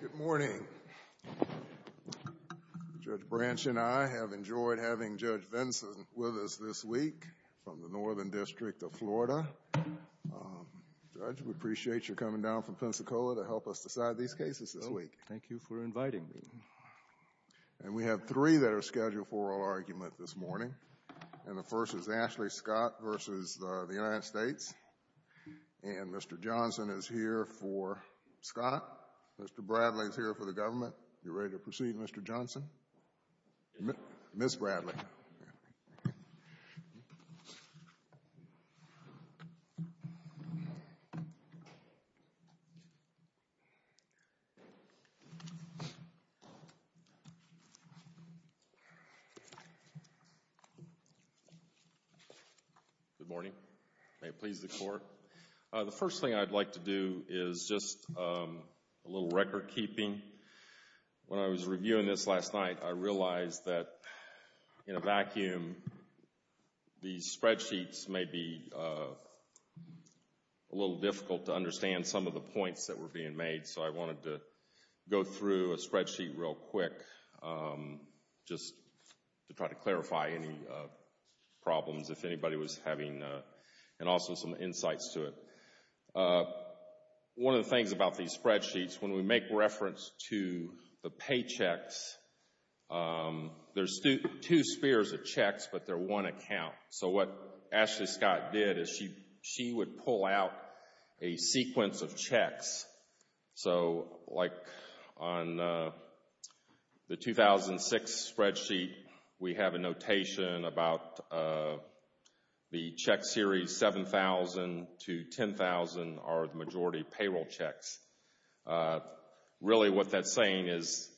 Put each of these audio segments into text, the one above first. Good morning. Judge Branch and I have enjoyed having Judge Vinson with us this week from the Northern District of Florida. Judge, we appreciate your coming down from Pensacola to help us decide these cases this week. Thank you for inviting me. And we have three that are scheduled for oral argument this morning, and the first is Ashley Scott v. the United States. Mr. Johnson is here for Scott. Mr. Bradley is here for the government. Are you ready to proceed, Mr. Johnson? Ms. Bradley. Good morning. May it please the Court. The first thing I'd like to do is just a little record keeping. When I was reviewing this last night, I realized that in a vacuum, these spreadsheets may be a little difficult to understand some of the points that were being made, so I wanted to go through a spreadsheet real quick just to try to clarify any problems, if anybody was having, and also some insights to it. One of the things about these spreadsheets, when we make reference to the paychecks, there's two spheres of checks, but they're one account. So what Ashley Scott did is she would pull out a sequence of checks. So, like on the 2006 spreadsheet, we have a notation about the check series 7,000 to 10,000 are the majority payroll checks. Really what that's saying is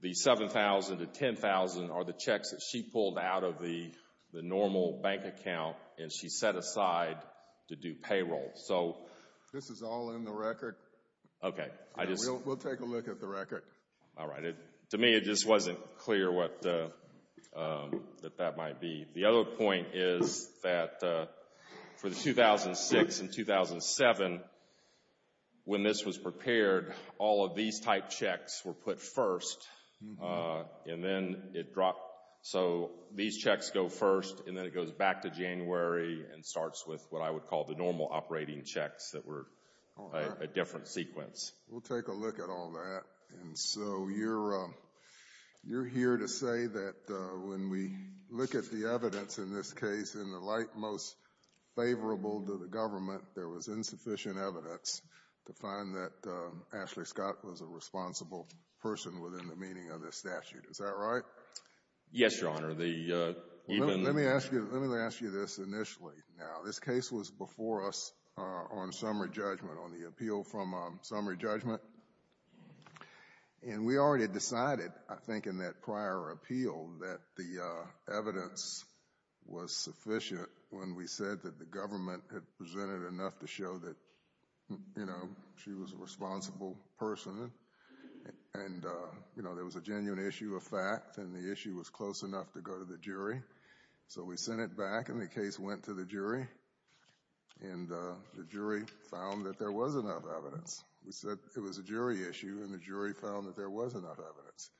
the 7,000 to 10,000 are the checks that she pulled out of the normal bank account and she set aside to do payroll. This is all in the record. We'll take a look at the record. All right. To me, it just wasn't clear what that might be. The other point is that for the 2006 and 2007, when this was prepared, all of these type checks were put first, and then it dropped. So these checks go first, and then it goes back to January and starts with what I would call the normal operating checks that were a different sequence. We'll take a look at all that. And so you're here to say that when we look at the evidence in this case, in the light most favorable to the government, there was insufficient evidence to find that Ashley Scott was a responsible person within the meaning of this statute. Is that right? Yes, Your Honor. The even the ---- Let me ask you this initially. Now, this case was before us on summary judgment. On the appeal from summary judgment. And we already decided, I think, in that prior appeal that the evidence was sufficient when we said that the government had presented enough to show that, you know, she was a responsible person. And, you know, there was a genuine issue of fact, and the issue was close enough to go to the jury. So we sent it back, and the case went to the jury. And the jury found that there was enough evidence. We said it was a jury issue, and the jury found that there was enough evidence.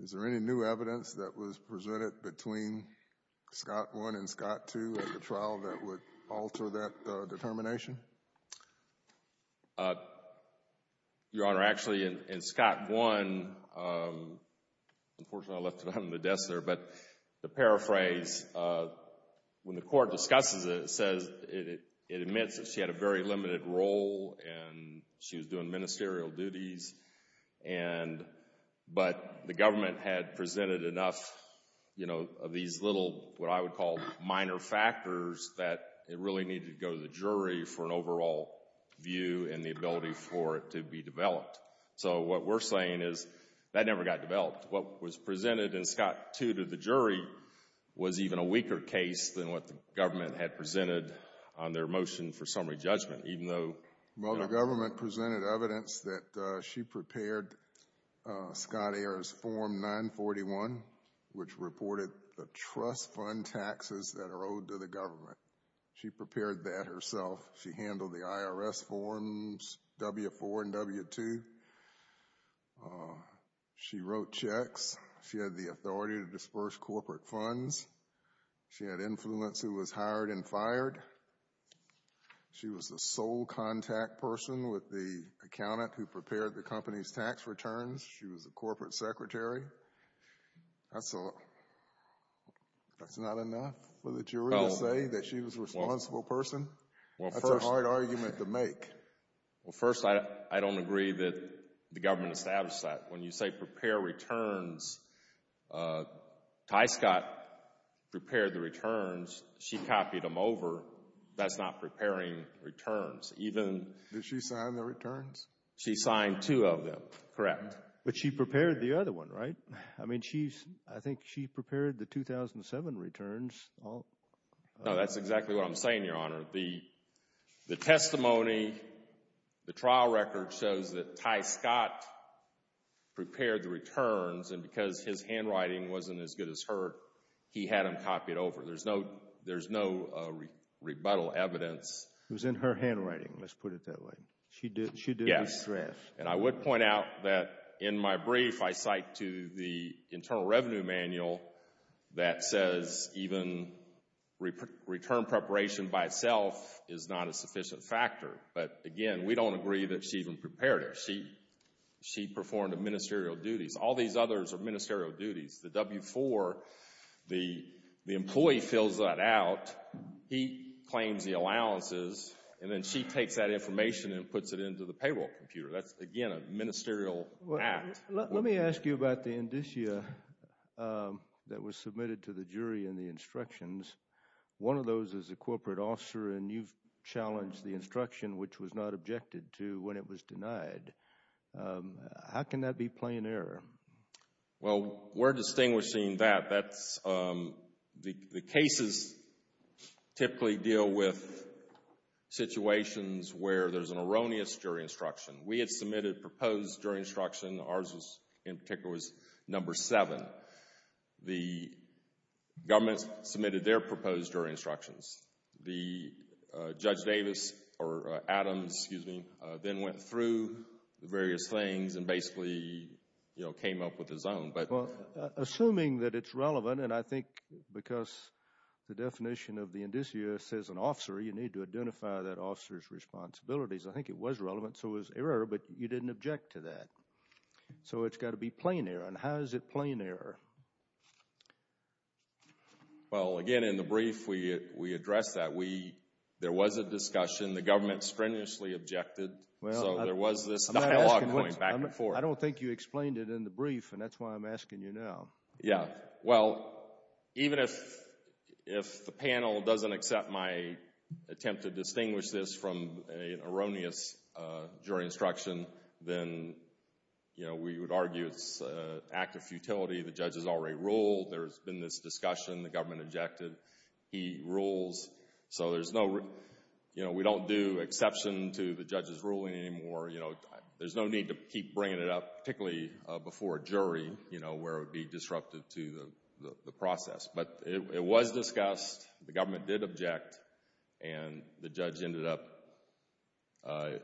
Is there any new evidence that was presented between Scott 1 and Scott 2 at the trial that would alter that determination? Your Honor, actually in Scott 1, unfortunately I left it on the desk there, but to paraphrase, when the court discusses it, it says, it admits that she had a very limited role, and she was doing ministerial duties. And, but the government had presented enough, you know, of these little, what I would call minor factors, that it really needed to go to the jury for an overall view and the ability for it to be developed. So what we're saying is that it never got developed. What was presented in Scott 2 to the jury was even a weaker case than what the government had presented on their motion for summary judgment, even though… Well, the government presented evidence that she prepared Scott Ayer's Form 941, which reported the trust fund taxes that are owed to the government. She prepared that herself. She handled the IRS forms W-4 and W-2. She wrote checks. She had the authority to disperse corporate funds. She had influence who was hired and fired. She was the sole contact person with the accountant who prepared the company's tax returns. She was the corporate secretary. That's not enough for the jury to say that she was a responsible person? That's a hard argument to make. Well, first, I don't agree that the government established that. When you say prepare returns, Ty Scott prepared the returns. She copied them over. That's not preparing returns. Even… Did she sign the returns? She signed two of them, correct. But she prepared the other one, right? I mean, she's, I think she prepared the 2007 returns. No, that's exactly what I'm saying, Your Honor. The testimony, the trial record shows that Ty Scott prepared the returns, and because his handwriting wasn't as good as hers, he had them copied over. There's no rebuttal evidence. It was in her handwriting, let's put it that way. She did the stress. Yes, and I would point out that in my brief, I cite to the Internal Revenue Manual that says even return preparation by itself is not a sufficient factor. But again, we don't agree that she even prepared it. She performed ministerial duties. All these others are ministerial duties. The W-4, the employee fills that out. He claims the allowances, and then she takes that information and puts it into the payroll computer. That's, again, a ministerial act. Let me ask you about the indicia that was submitted to the jury in the instructions. One of those is a corporate officer, and you've challenged the instruction, which was not objected to when it was denied. How can that be plain error? Well, we're distinguishing that. That's, the cases typically deal with situations where there's an erroneous jury instruction. We had submitted proposed jury instruction. Ours was, in particular, was number seven. The government submitted their proposed jury instructions. The Judge Davis, or Adams, excuse me, then went through the various things and basically, you know, came up with his own, but... Well, assuming that it's relevant, and I think because the definition of the indicia says an officer, you need to identify that officer's responsibilities. I think it was relevant, so it was error, but you didn't object to that. So it's got to be plain error, and how is it plain error? Well, again, in the brief, we addressed that. We, there was a discussion. The government strenuously objected, so there was this dialogue going back and forth. I don't think you explained it in the brief, and that's why I'm asking you now. Yeah, well, even if the panel doesn't accept my attempt to distinguish this from an erroneous jury instruction, then, you know, we would argue it's an act of futility. The judge has already ruled. There's been this discussion. The government objected. He rules, so there's no, you know, we don't do exception to the judge's ruling anymore. You know, there's no need to keep bringing it up, particularly before a jury, you know, where it would be disruptive to the process, but it was discussed. The government did object, and the judge ended up,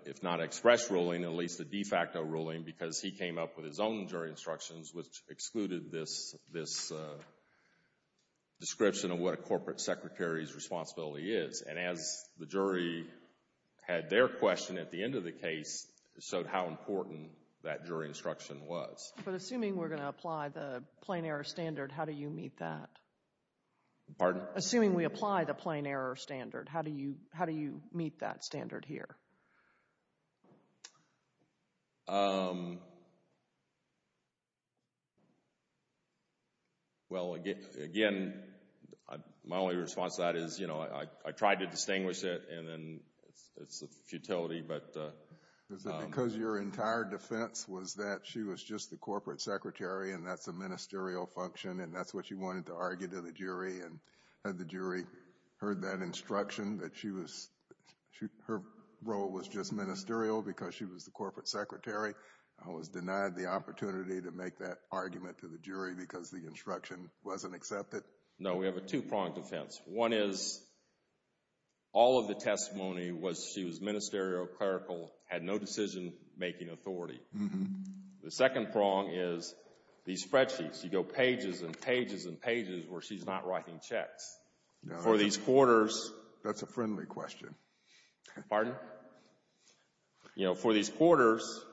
if not express ruling, at least a de facto ruling because he came up with his own jury instructions, which excluded this, this description of what a corporate secretary's responsibility is, and as the jury had their question at the end of the case, showed how important that jury instruction was. But assuming we're going to apply the plain error standard, how do you meet that? Pardon? Assuming we apply the plain error standard, how do you, how do you meet that standard here? Well, again, my only response to that is, you know, I can't, you know, I don't think I, I tried to distinguish it, and then it's, it's a futility, but, uh, um. Is it because your entire defense was that she was just the corporate secretary and that's a ministerial function, and that's what you wanted to argue to the jury, and had the jury heard that instruction, that she was, her role was just ministerial because she was the corporate secretary, and was denied the opportunity to make that argument to the jury because the instruction wasn't accepted? No, we have a two-pronged defense. One is, all of the testimony was she was ministerial, clerical, had no decision-making authority. The second prong is, these spreadsheets, you go pages and pages and pages where she's not writing checks. For these quarters. That's a friendly question. Pardon? You know, for these quarters,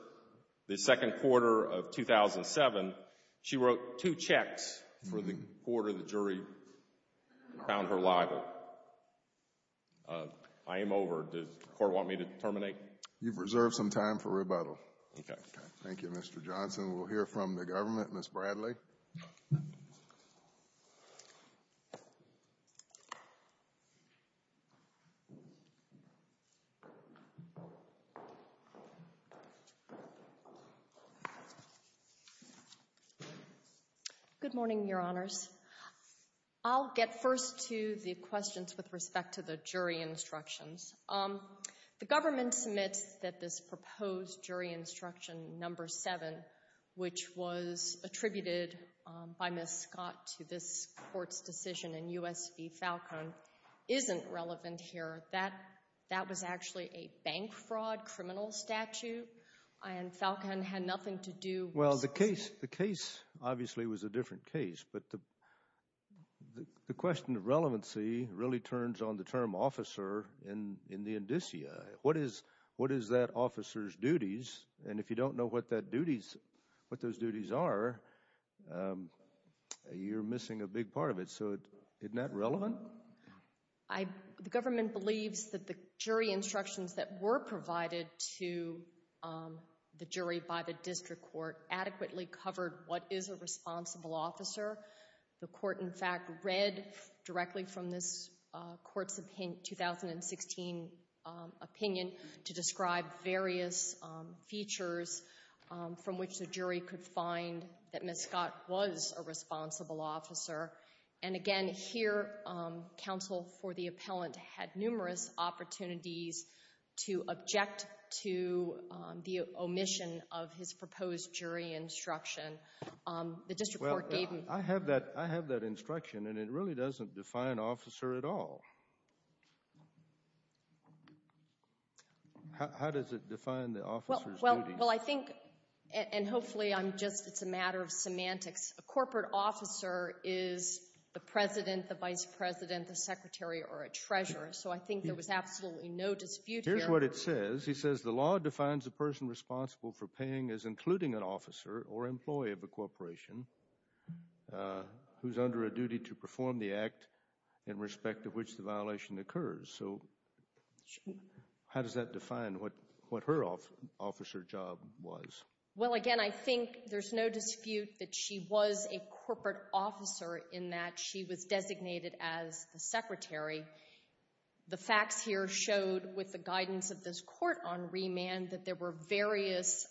the second quarter of 2007, she wrote two checks for the quarter the jury found her liable. I am over. Does the court want me to terminate? You've reserved some time for rebuttal. Okay. Thank you, Mr. Johnson. We'll hear from the government. Ms. Bradley? Good morning, Your Honors. I'll get first to the questions with respect to the jury instructions. The government submits that this proposed jury instruction number seven, which was attributed by Ms. Scott to this court's decision in U.S. v. Falcon, isn't relevant here. That was actually a bank fraud criminal statute, and Falcon had nothing to do with this. Well, the case, obviously, was a different case. But the question of relevancy really turns on the term officer in the indicia. What is that officer's duties? And if you don't know what that duties, what those duties are, you're missing a big part of it. So, isn't that relevant? The government believes that the jury instructions that were provided to the jury by the district court adequately covered what is a responsible officer. The court, in fact, read directly from this court's 2016 opinion to describe various features from which the jury could find that Ms. Scott was a responsible officer. And again, here, counsel for the appellant had numerous opportunities to object to the proposed jury instruction the district court gave him. Well, I have that instruction, and it really doesn't define officer at all. How does it define the officer's duties? Well, I think, and hopefully it's a matter of semantics, a corporate officer is the president, the vice president, the secretary, or a treasurer. So I think there was absolutely no dispute here. Here's what it says. It says, he says, the law defines the person responsible for paying as including an officer or employee of a corporation who's under a duty to perform the act in respect of which the violation occurs. So how does that define what her officer job was? Well, again, I think there's no dispute that she was a corporate officer in that she was designated as the secretary. The facts here showed, with the guidance of this court on remand, that there were various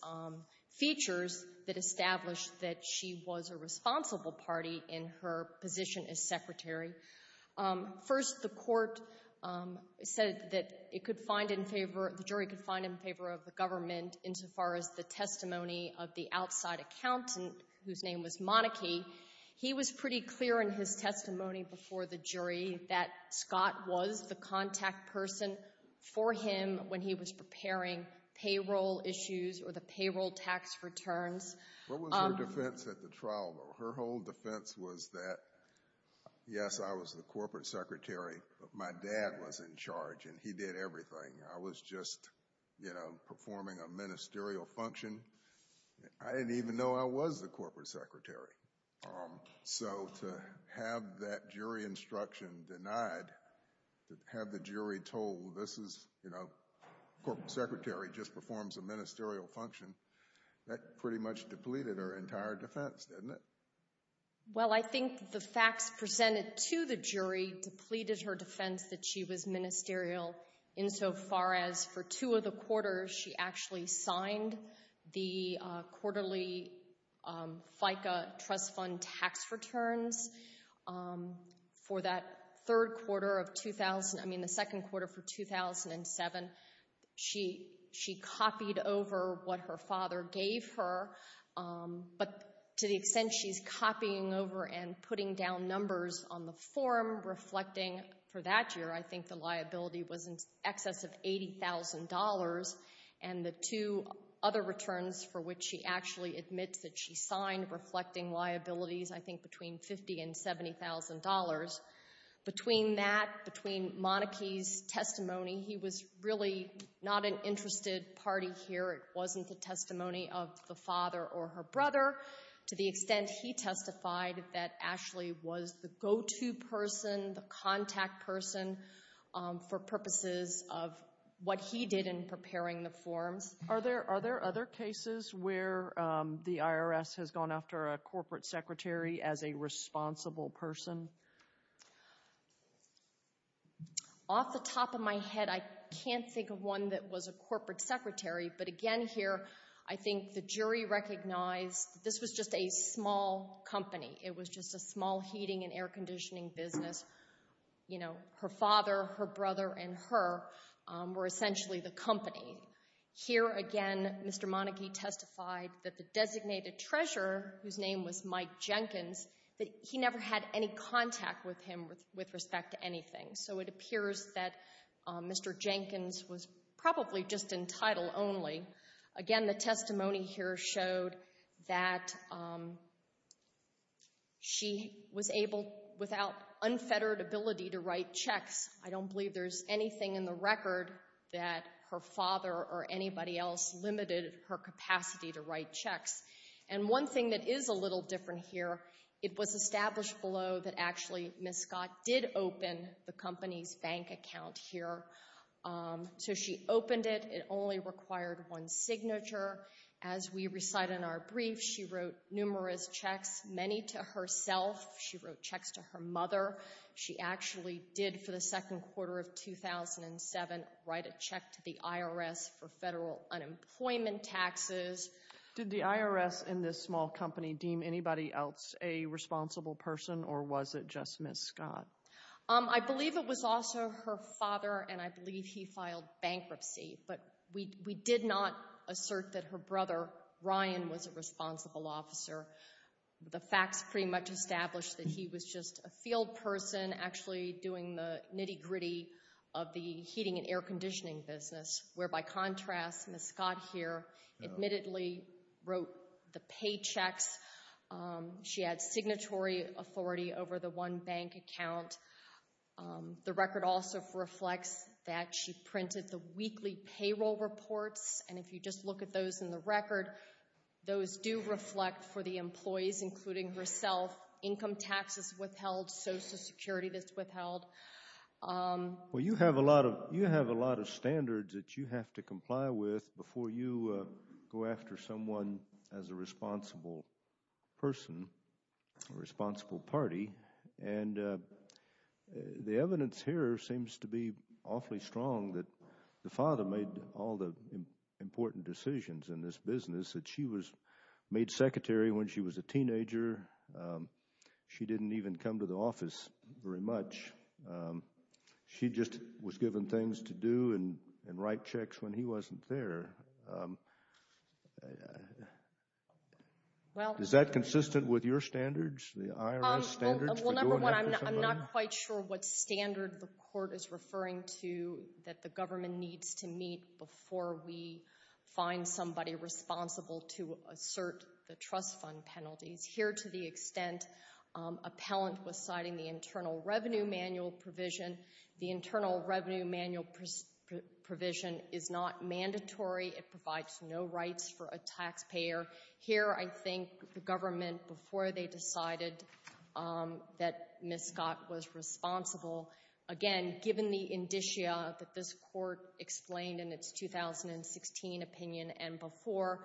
features that established that she was a responsible party in her position as secretary. First, the court said that it could find in favor, the jury could find in favor of the government insofar as the testimony of the outside accountant, whose name was Monarchy. He was pretty clear in his testimony before the jury that Scott was the contact person for him when he was preparing payroll issues or the payroll tax returns. What was her defense at the trial? Her whole defense was that, yes, I was the corporate secretary, but my dad was in charge and he did everything. I was just, you know, performing a ministerial function. I didn't even know I was the corporate secretary. So to have that jury instruction denied, to have the jury told, this is, you know, corporate secretary just performs a ministerial function, that pretty much depleted her entire defense, didn't it? Well, I think the facts presented to the jury depleted her defense that she was ministerial insofar as for two of the quarters she actually signed the quarterly FICA trust fund tax returns. For that third quarter of 2000, I mean the second quarter for 2007, she copied over what her father gave her, but to the extent she's copying over and putting down numbers on the that year, I think the liability was in excess of $80,000 and the two other returns for which she actually admits that she signed reflecting liabilities, I think between $50,000 and $70,000. Between that, between Monarchy's testimony, he was really not an interested party here. It wasn't the testimony of the father or her brother. To the extent he testified that Ashley was the go-to person, the contact person for purposes of what he did in preparing the forms. Are there other cases where the IRS has gone after a corporate secretary as a responsible person? Off the top of my head, I can't think of one that was a corporate secretary, but again here, I think the jury recognized this was just a small company. It was just a small heating and air conditioning business. You know, her father, her brother, and her were essentially the company. Here again, Mr. Monarchy testified that the designated treasurer, whose name was Mike Jenkins, that he never had any contact with him with respect to anything. So it appears that Mr. Jenkins was probably just in title only. Again, the testimony here showed that she was able, without unfettered ability, to write checks. I don't believe there's anything in the record that her father or anybody else limited her capacity to write checks. And one thing that is a little different here, it was established below that actually Ms. Scott's company's bank account here. So she opened it. It only required one signature. As we recite in our brief, she wrote numerous checks, many to herself. She wrote checks to her mother. She actually did, for the second quarter of 2007, write a check to the IRS for federal unemployment taxes. Did the IRS in this small company deem anybody else a responsible person, or was it just Ms. Scott? I believe it was also her father, and I believe he filed bankruptcy. But we did not assert that her brother, Ryan, was a responsible officer. The facts pretty much established that he was just a field person actually doing the nitty-gritty of the heating and air conditioning business, where, by contrast, Ms. Scott here admittedly wrote the paychecks. She had signatory authority over the one bank account. The record also reflects that she printed the weekly payroll reports, and if you just look at those in the record, those do reflect for the employees, including herself, income taxes withheld, Social Security that's withheld. Well, you have a lot of standards that you have to comply with before you go after someone as a responsible person, a responsible party, and the evidence here seems to be awfully strong that the father made all the important decisions in this business, that she was made secretary when she was a teenager. She didn't even come to the office very much. She just was given things to do and write checks when he wasn't there. Is that consistent with your standards, the IRS standards for going after somebody? Well, number one, I'm not quite sure what standard the court is referring to that the government needs to meet before we find somebody responsible to assert the trust fund penalties. Here, to the extent appellant was citing the Internal Revenue Manual provision, the Internal Revenue Manual provision is not mandatory. It provides no rights for a taxpayer. Here I think the government, before they decided that Ms. Scott was responsible, again, given the indicia that this court explained in its 2016 opinion and before,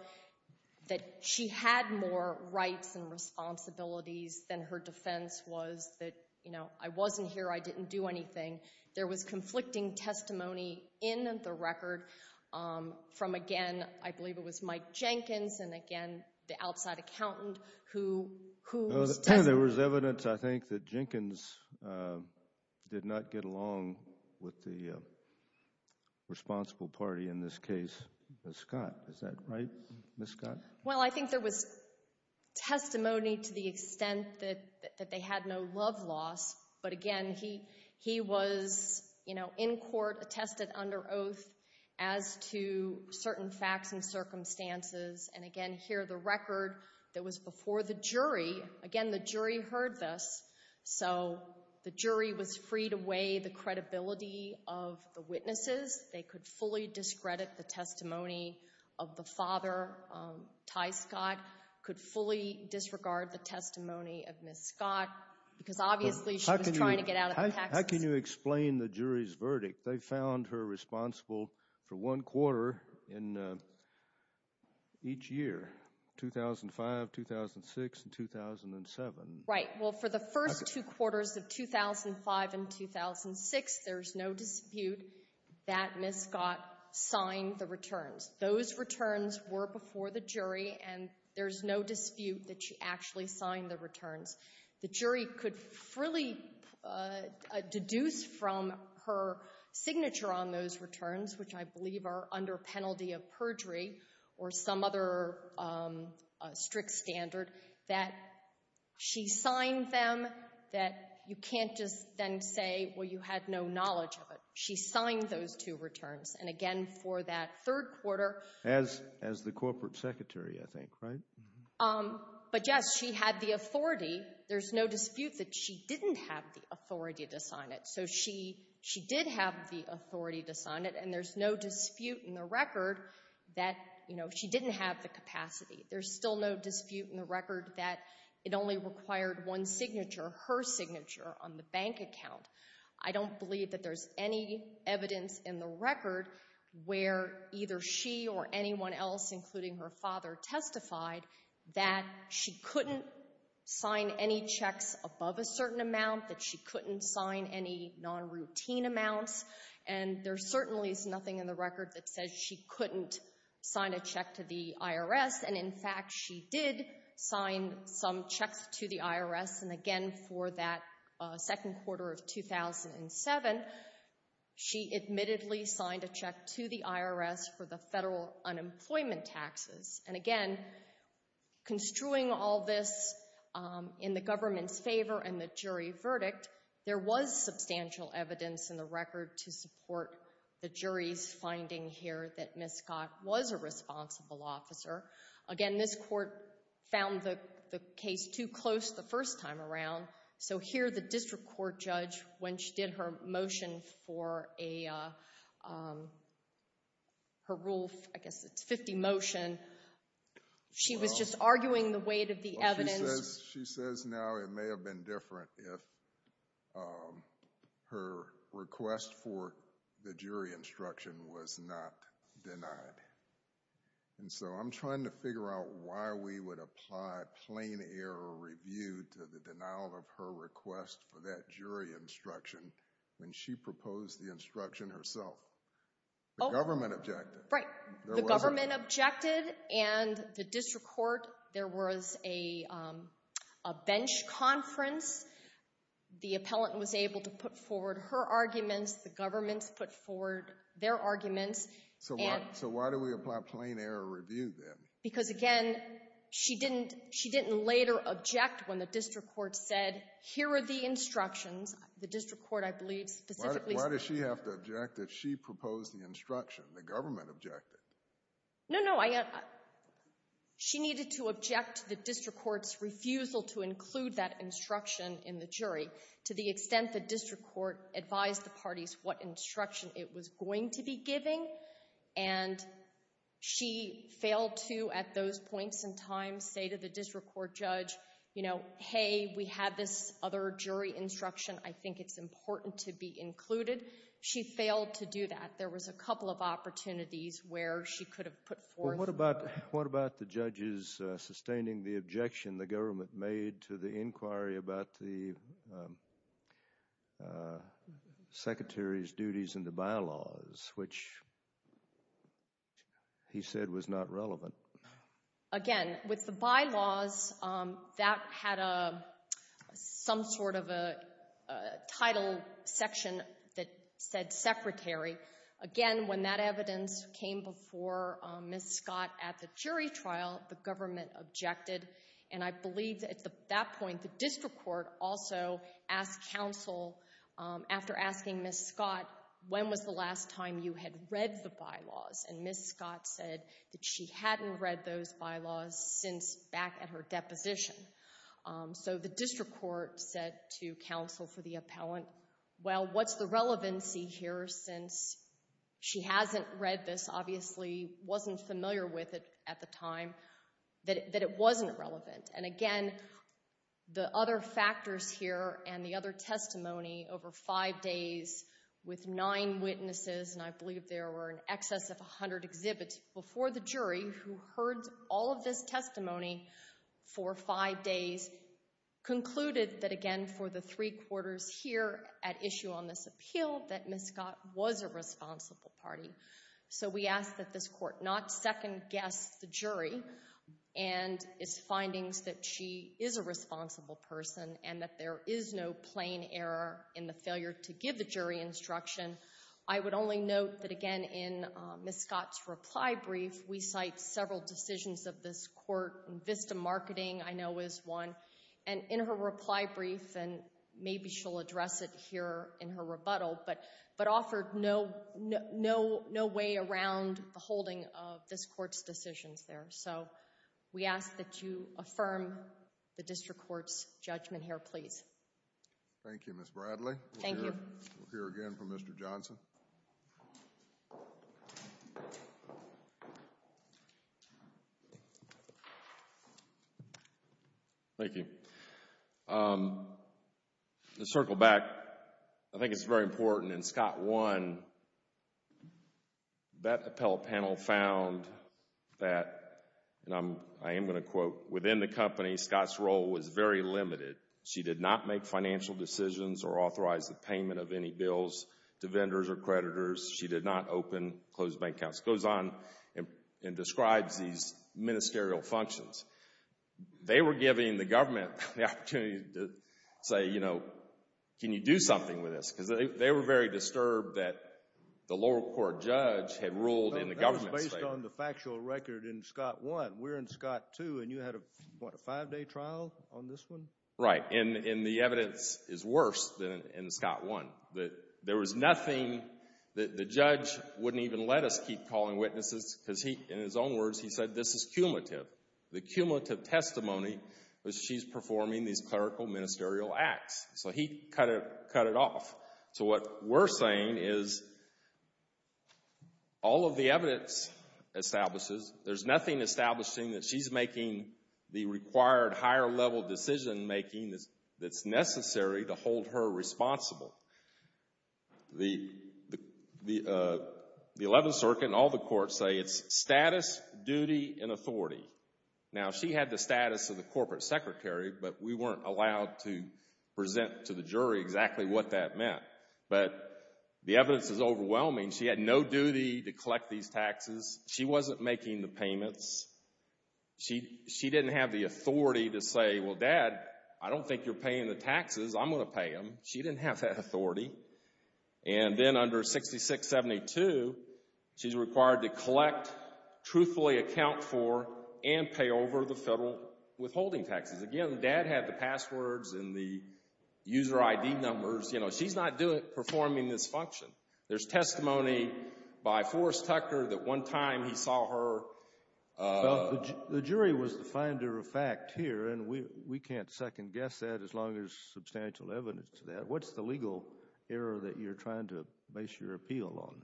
that she had more rights and responsibilities than her defense was that, you know, I wasn't here, I didn't do anything. There was conflicting testimony in the record from, again, I believe it was Mike Jenkins and again the outside accountant who was testifying. There was evidence, I think, that Jenkins did not get along with the responsible party in this case, Ms. Scott. Is that right, Ms. Scott? Well, I think there was testimony to the extent that they had no love loss, but again, he was, you know, in court, attested under oath as to certain facts and circumstances and again here the record that was before the jury, again the jury heard this, so the jury was freed away the credibility of the witnesses. They could fully discredit the testimony of the father, Ty Scott, could fully disregard the testimony of Ms. Scott because obviously she was trying to get out of the taxes. How can you explain the jury's verdict? They found her responsible for one quarter in each year, 2005, 2006, and 2007. Right. Well, for the first two quarters of 2005 and 2006, there's no dispute that Ms. Scott signed the returns. Those returns were before the jury and there's no dispute that she actually signed the returns. The jury could freely deduce from her signature on those returns, which I believe are under penalty of perjury or some other strict standard, that she signed them, that you can't just then say, well, you had no knowledge of it. She signed those two returns and again for that third quarter. As the corporate secretary, I think, right? But yes, she had the authority. There's no dispute that she didn't have the authority to sign it, so she did have the record that, you know, she didn't have the capacity. There's still no dispute in the record that it only required one signature, her signature on the bank account. I don't believe that there's any evidence in the record where either she or anyone else, including her father, testified that she couldn't sign any checks above a certain amount, that she couldn't sign any non-routine amounts, and there certainly is nothing in the record that says she couldn't sign a check to the IRS, and in fact, she did sign some checks to the IRS, and again for that second quarter of 2007, she admittedly signed a check to the IRS for the federal unemployment taxes, and again, construing all this in the government's favor and the jury verdict, there was substantial evidence in the record to support the jury's finding here that Ms. Scott was a responsible officer. Again, this court found the case too close the first time around, so here the district court judge, when she did her motion for a, her rule, I guess it's 50 motion, she was just arguing the weight of the evidence. She says now it may have been different if her request for the jury instruction was not denied, and so I'm trying to figure out why we would apply plain error review to the denial of her request for that jury instruction when she proposed the instruction herself. The government objected. Right. The government objected, and the district court, there was a bench conference. The appellant was able to put forward her arguments, the government put forward their arguments. So why do we apply plain error review then? Because again, she didn't later object when the district court said, here are the instructions. The district court, I believe, specifically said. No, no, I, she needed to object to the district court's refusal to include that instruction in the jury to the extent the district court advised the parties what instruction it was going to be giving, and she failed to at those points in time say to the district court judge, you know, hey, we had this other jury instruction, I think it's important to be included. She failed to do that. There was a couple of opportunities where she could have put forth. Well, what about, what about the judges sustaining the objection the government made to the inquiry about the secretary's duties in the bylaws, which he said was not relevant? Again, with the bylaws, that had a, some sort of a title section that said secretary. Again, when that evidence came before Ms. Scott at the jury trial, the government objected, and I believe that at that point, the district court also asked counsel, after asking Ms. Scott, when was the last time you had read the bylaws, and Ms. Scott said that she hadn't read those bylaws since back at her deposition. So the district court said to counsel for the appellant, well, what's the relevancy here since she hasn't read this, obviously wasn't familiar with it at the time, that it wasn't relevant, and again, the other factors here and the other testimony over five days with nine witnesses, and I believe there were in excess of 100 exhibits before the jury who heard all of this testimony for five days concluded that, again, for the three quarters here at issue on this appeal, that Ms. Scott was a responsible party. So we ask that this court not second-guess the jury and its findings that she is a responsible person and that there is no plain error in the failure to give the jury instruction. I would only note that, again, in Ms. Scott's reply brief, we cite several decisions of this court, and VISTA marketing I know is one, and in her reply brief, and maybe she'll address it here in her rebuttal, but offered no way around the holding of this court's decisions there. So we ask that you affirm the district court's judgment here, please. Thank you, Ms. Bradley. Thank you. Thank you. We'll hear again from Mr. Johnson. Thank you. To circle back, I think it's very important, in Scott 1, that appellate panel found that, and I am going to quote, within the company, Scott's role was very limited. She did not make financial decisions or authorize the payment of any bills to vendors or creditors. She did not open closed bank accounts. Goes on and describes these ministerial functions. They were giving the government the opportunity to say, you know, can you do something with this? Because they were very disturbed that the lower court judge had ruled in the government's favor. That was based on the factual record in Scott 1. We're in Scott 2, and you had a, what, a five-day trial on this one? Right. And the evidence is worse than in Scott 1. There was nothing, the judge wouldn't even let us keep calling witnesses because he, in his own words, he said this is cumulative. The cumulative testimony was she's performing these clerical ministerial acts. So he cut it off. So what we're saying is all of the evidence establishes, there's nothing establishing that she's making the required higher-level decision-making that's necessary to hold her responsible. The 11th Circuit and all the courts say it's status, duty, and authority. Now she had the status of the corporate secretary, but we weren't allowed to present to the jury exactly what that meant. But the evidence is overwhelming. She had no duty to collect these taxes. She wasn't making the payments. She didn't have the authority to say, well, Dad, I don't think you're paying the taxes. I'm going to pay them. She didn't have that authority. And then under 6672, she's required to collect, truthfully account for, and pay over the federal withholding taxes. Again, Dad had the passwords and the user ID numbers. She's not performing this function. There's testimony by Forrest Tucker that one time he saw her... The jury was the finder of fact here, and we can't second-guess that as long as there's substantial evidence to that. What's the legal error that you're trying to base your appeal on?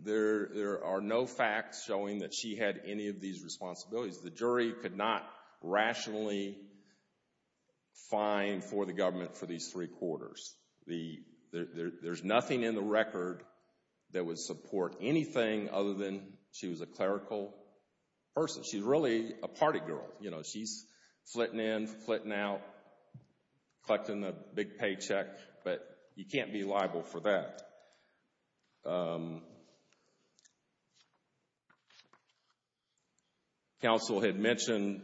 There are no facts showing that she had any of these responsibilities. The jury could not rationally fine for the government for these three quarters. There's nothing in the record that would support anything other than she was a clerical person. She's really a party girl. She's flitting in, flitting out, collecting the big paycheck, but you can't be liable for that. Council had mentioned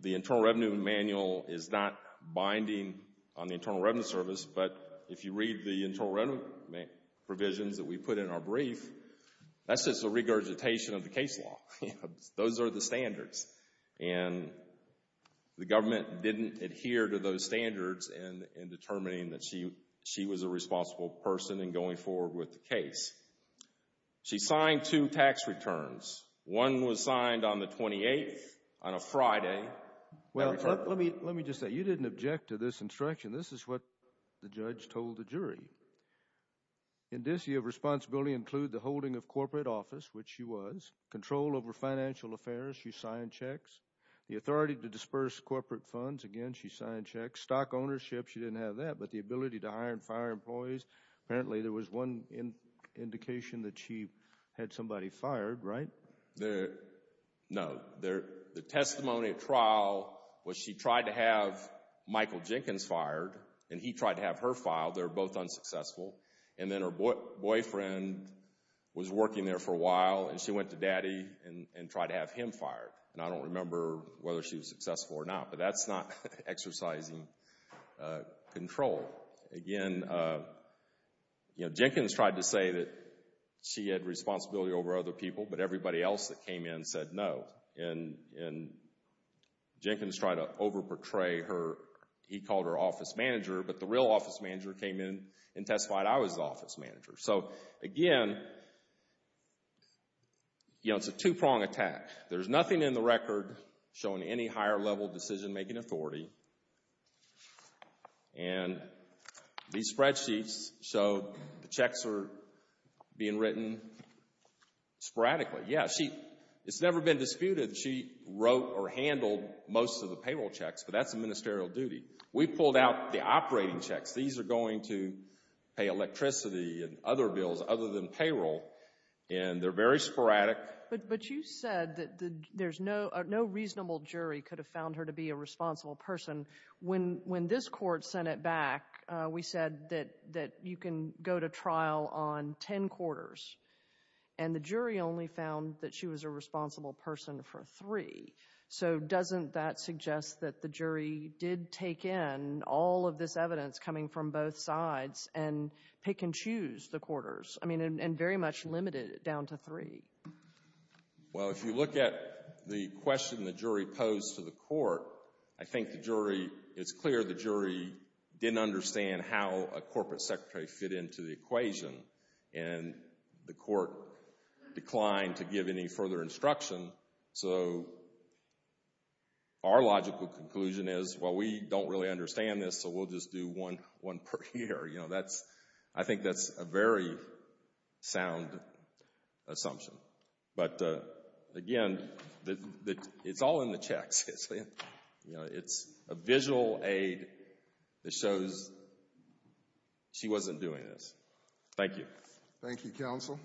the Internal Revenue Manual is not binding on the Internal Revenue Service, but if you read the Internal Revenue provisions that we put in our brief, that's just a regurgitation of the case law. Those are the standards, and the government didn't adhere to those standards in determining that she was a responsible person in going forward with the case. She signed two tax returns. One was signed on the 28th, on a Friday. Let me just say, you didn't object to this instruction. This is what the judge told the jury. Indicia of responsibility include the holding of corporate office, which she was, control over financial affairs, she signed checks, the authority to disperse corporate funds, again, she signed checks, stock ownership, she didn't have that, but the ability to hire and fire employees, apparently there was one indication that she had somebody fired, right? No. The testimony at trial was she tried to have Michael Jenkins fired, and he tried to have her filed. They were both unsuccessful, and then her boyfriend was working there for a while, and she went to daddy and tried to have him fired, and I don't remember whether she was successful or not, but that's not exercising control. Again, Jenkins tried to say that she had responsibility over other people, but everybody else that came in said no, and Jenkins tried to over-portray her, he called her office manager, but the real office manager came in and testified I was the office manager. So again, it's a two-pronged attack. There's nothing in the record showing any higher-level decision-making authority, and these spreadsheets show the checks are being written sporadically. Yeah, she, it's never been disputed that she wrote or handled most of the payroll checks, but that's a ministerial duty. We pulled out the operating checks, these are going to pay electricity and other bills other than payroll, and they're very sporadic. But you said that there's no, no reasonable jury could have found her to be a responsible person. When, when this court sent it back, we said that, that you can go to trial on ten quarters, and the jury only found that she was a responsible person for three. So doesn't that suggest that the jury did take in all of this evidence coming from both sides, and pick and choose the quarters, I mean, and very much limited it down to three? Well, if you look at the question the jury posed to the court, I think the jury, it's clear the jury didn't understand how a corporate secretary fit into the equation, and the court declined to give any further instruction. So our logical conclusion is, well, we don't really understand this, so we'll just do one, one per year, you know, that's, I think that's a very sound assumption. But again, it's all in the checks, you know, it's a visual aid that shows she wasn't doing this. Thank you. Thank you, counsel.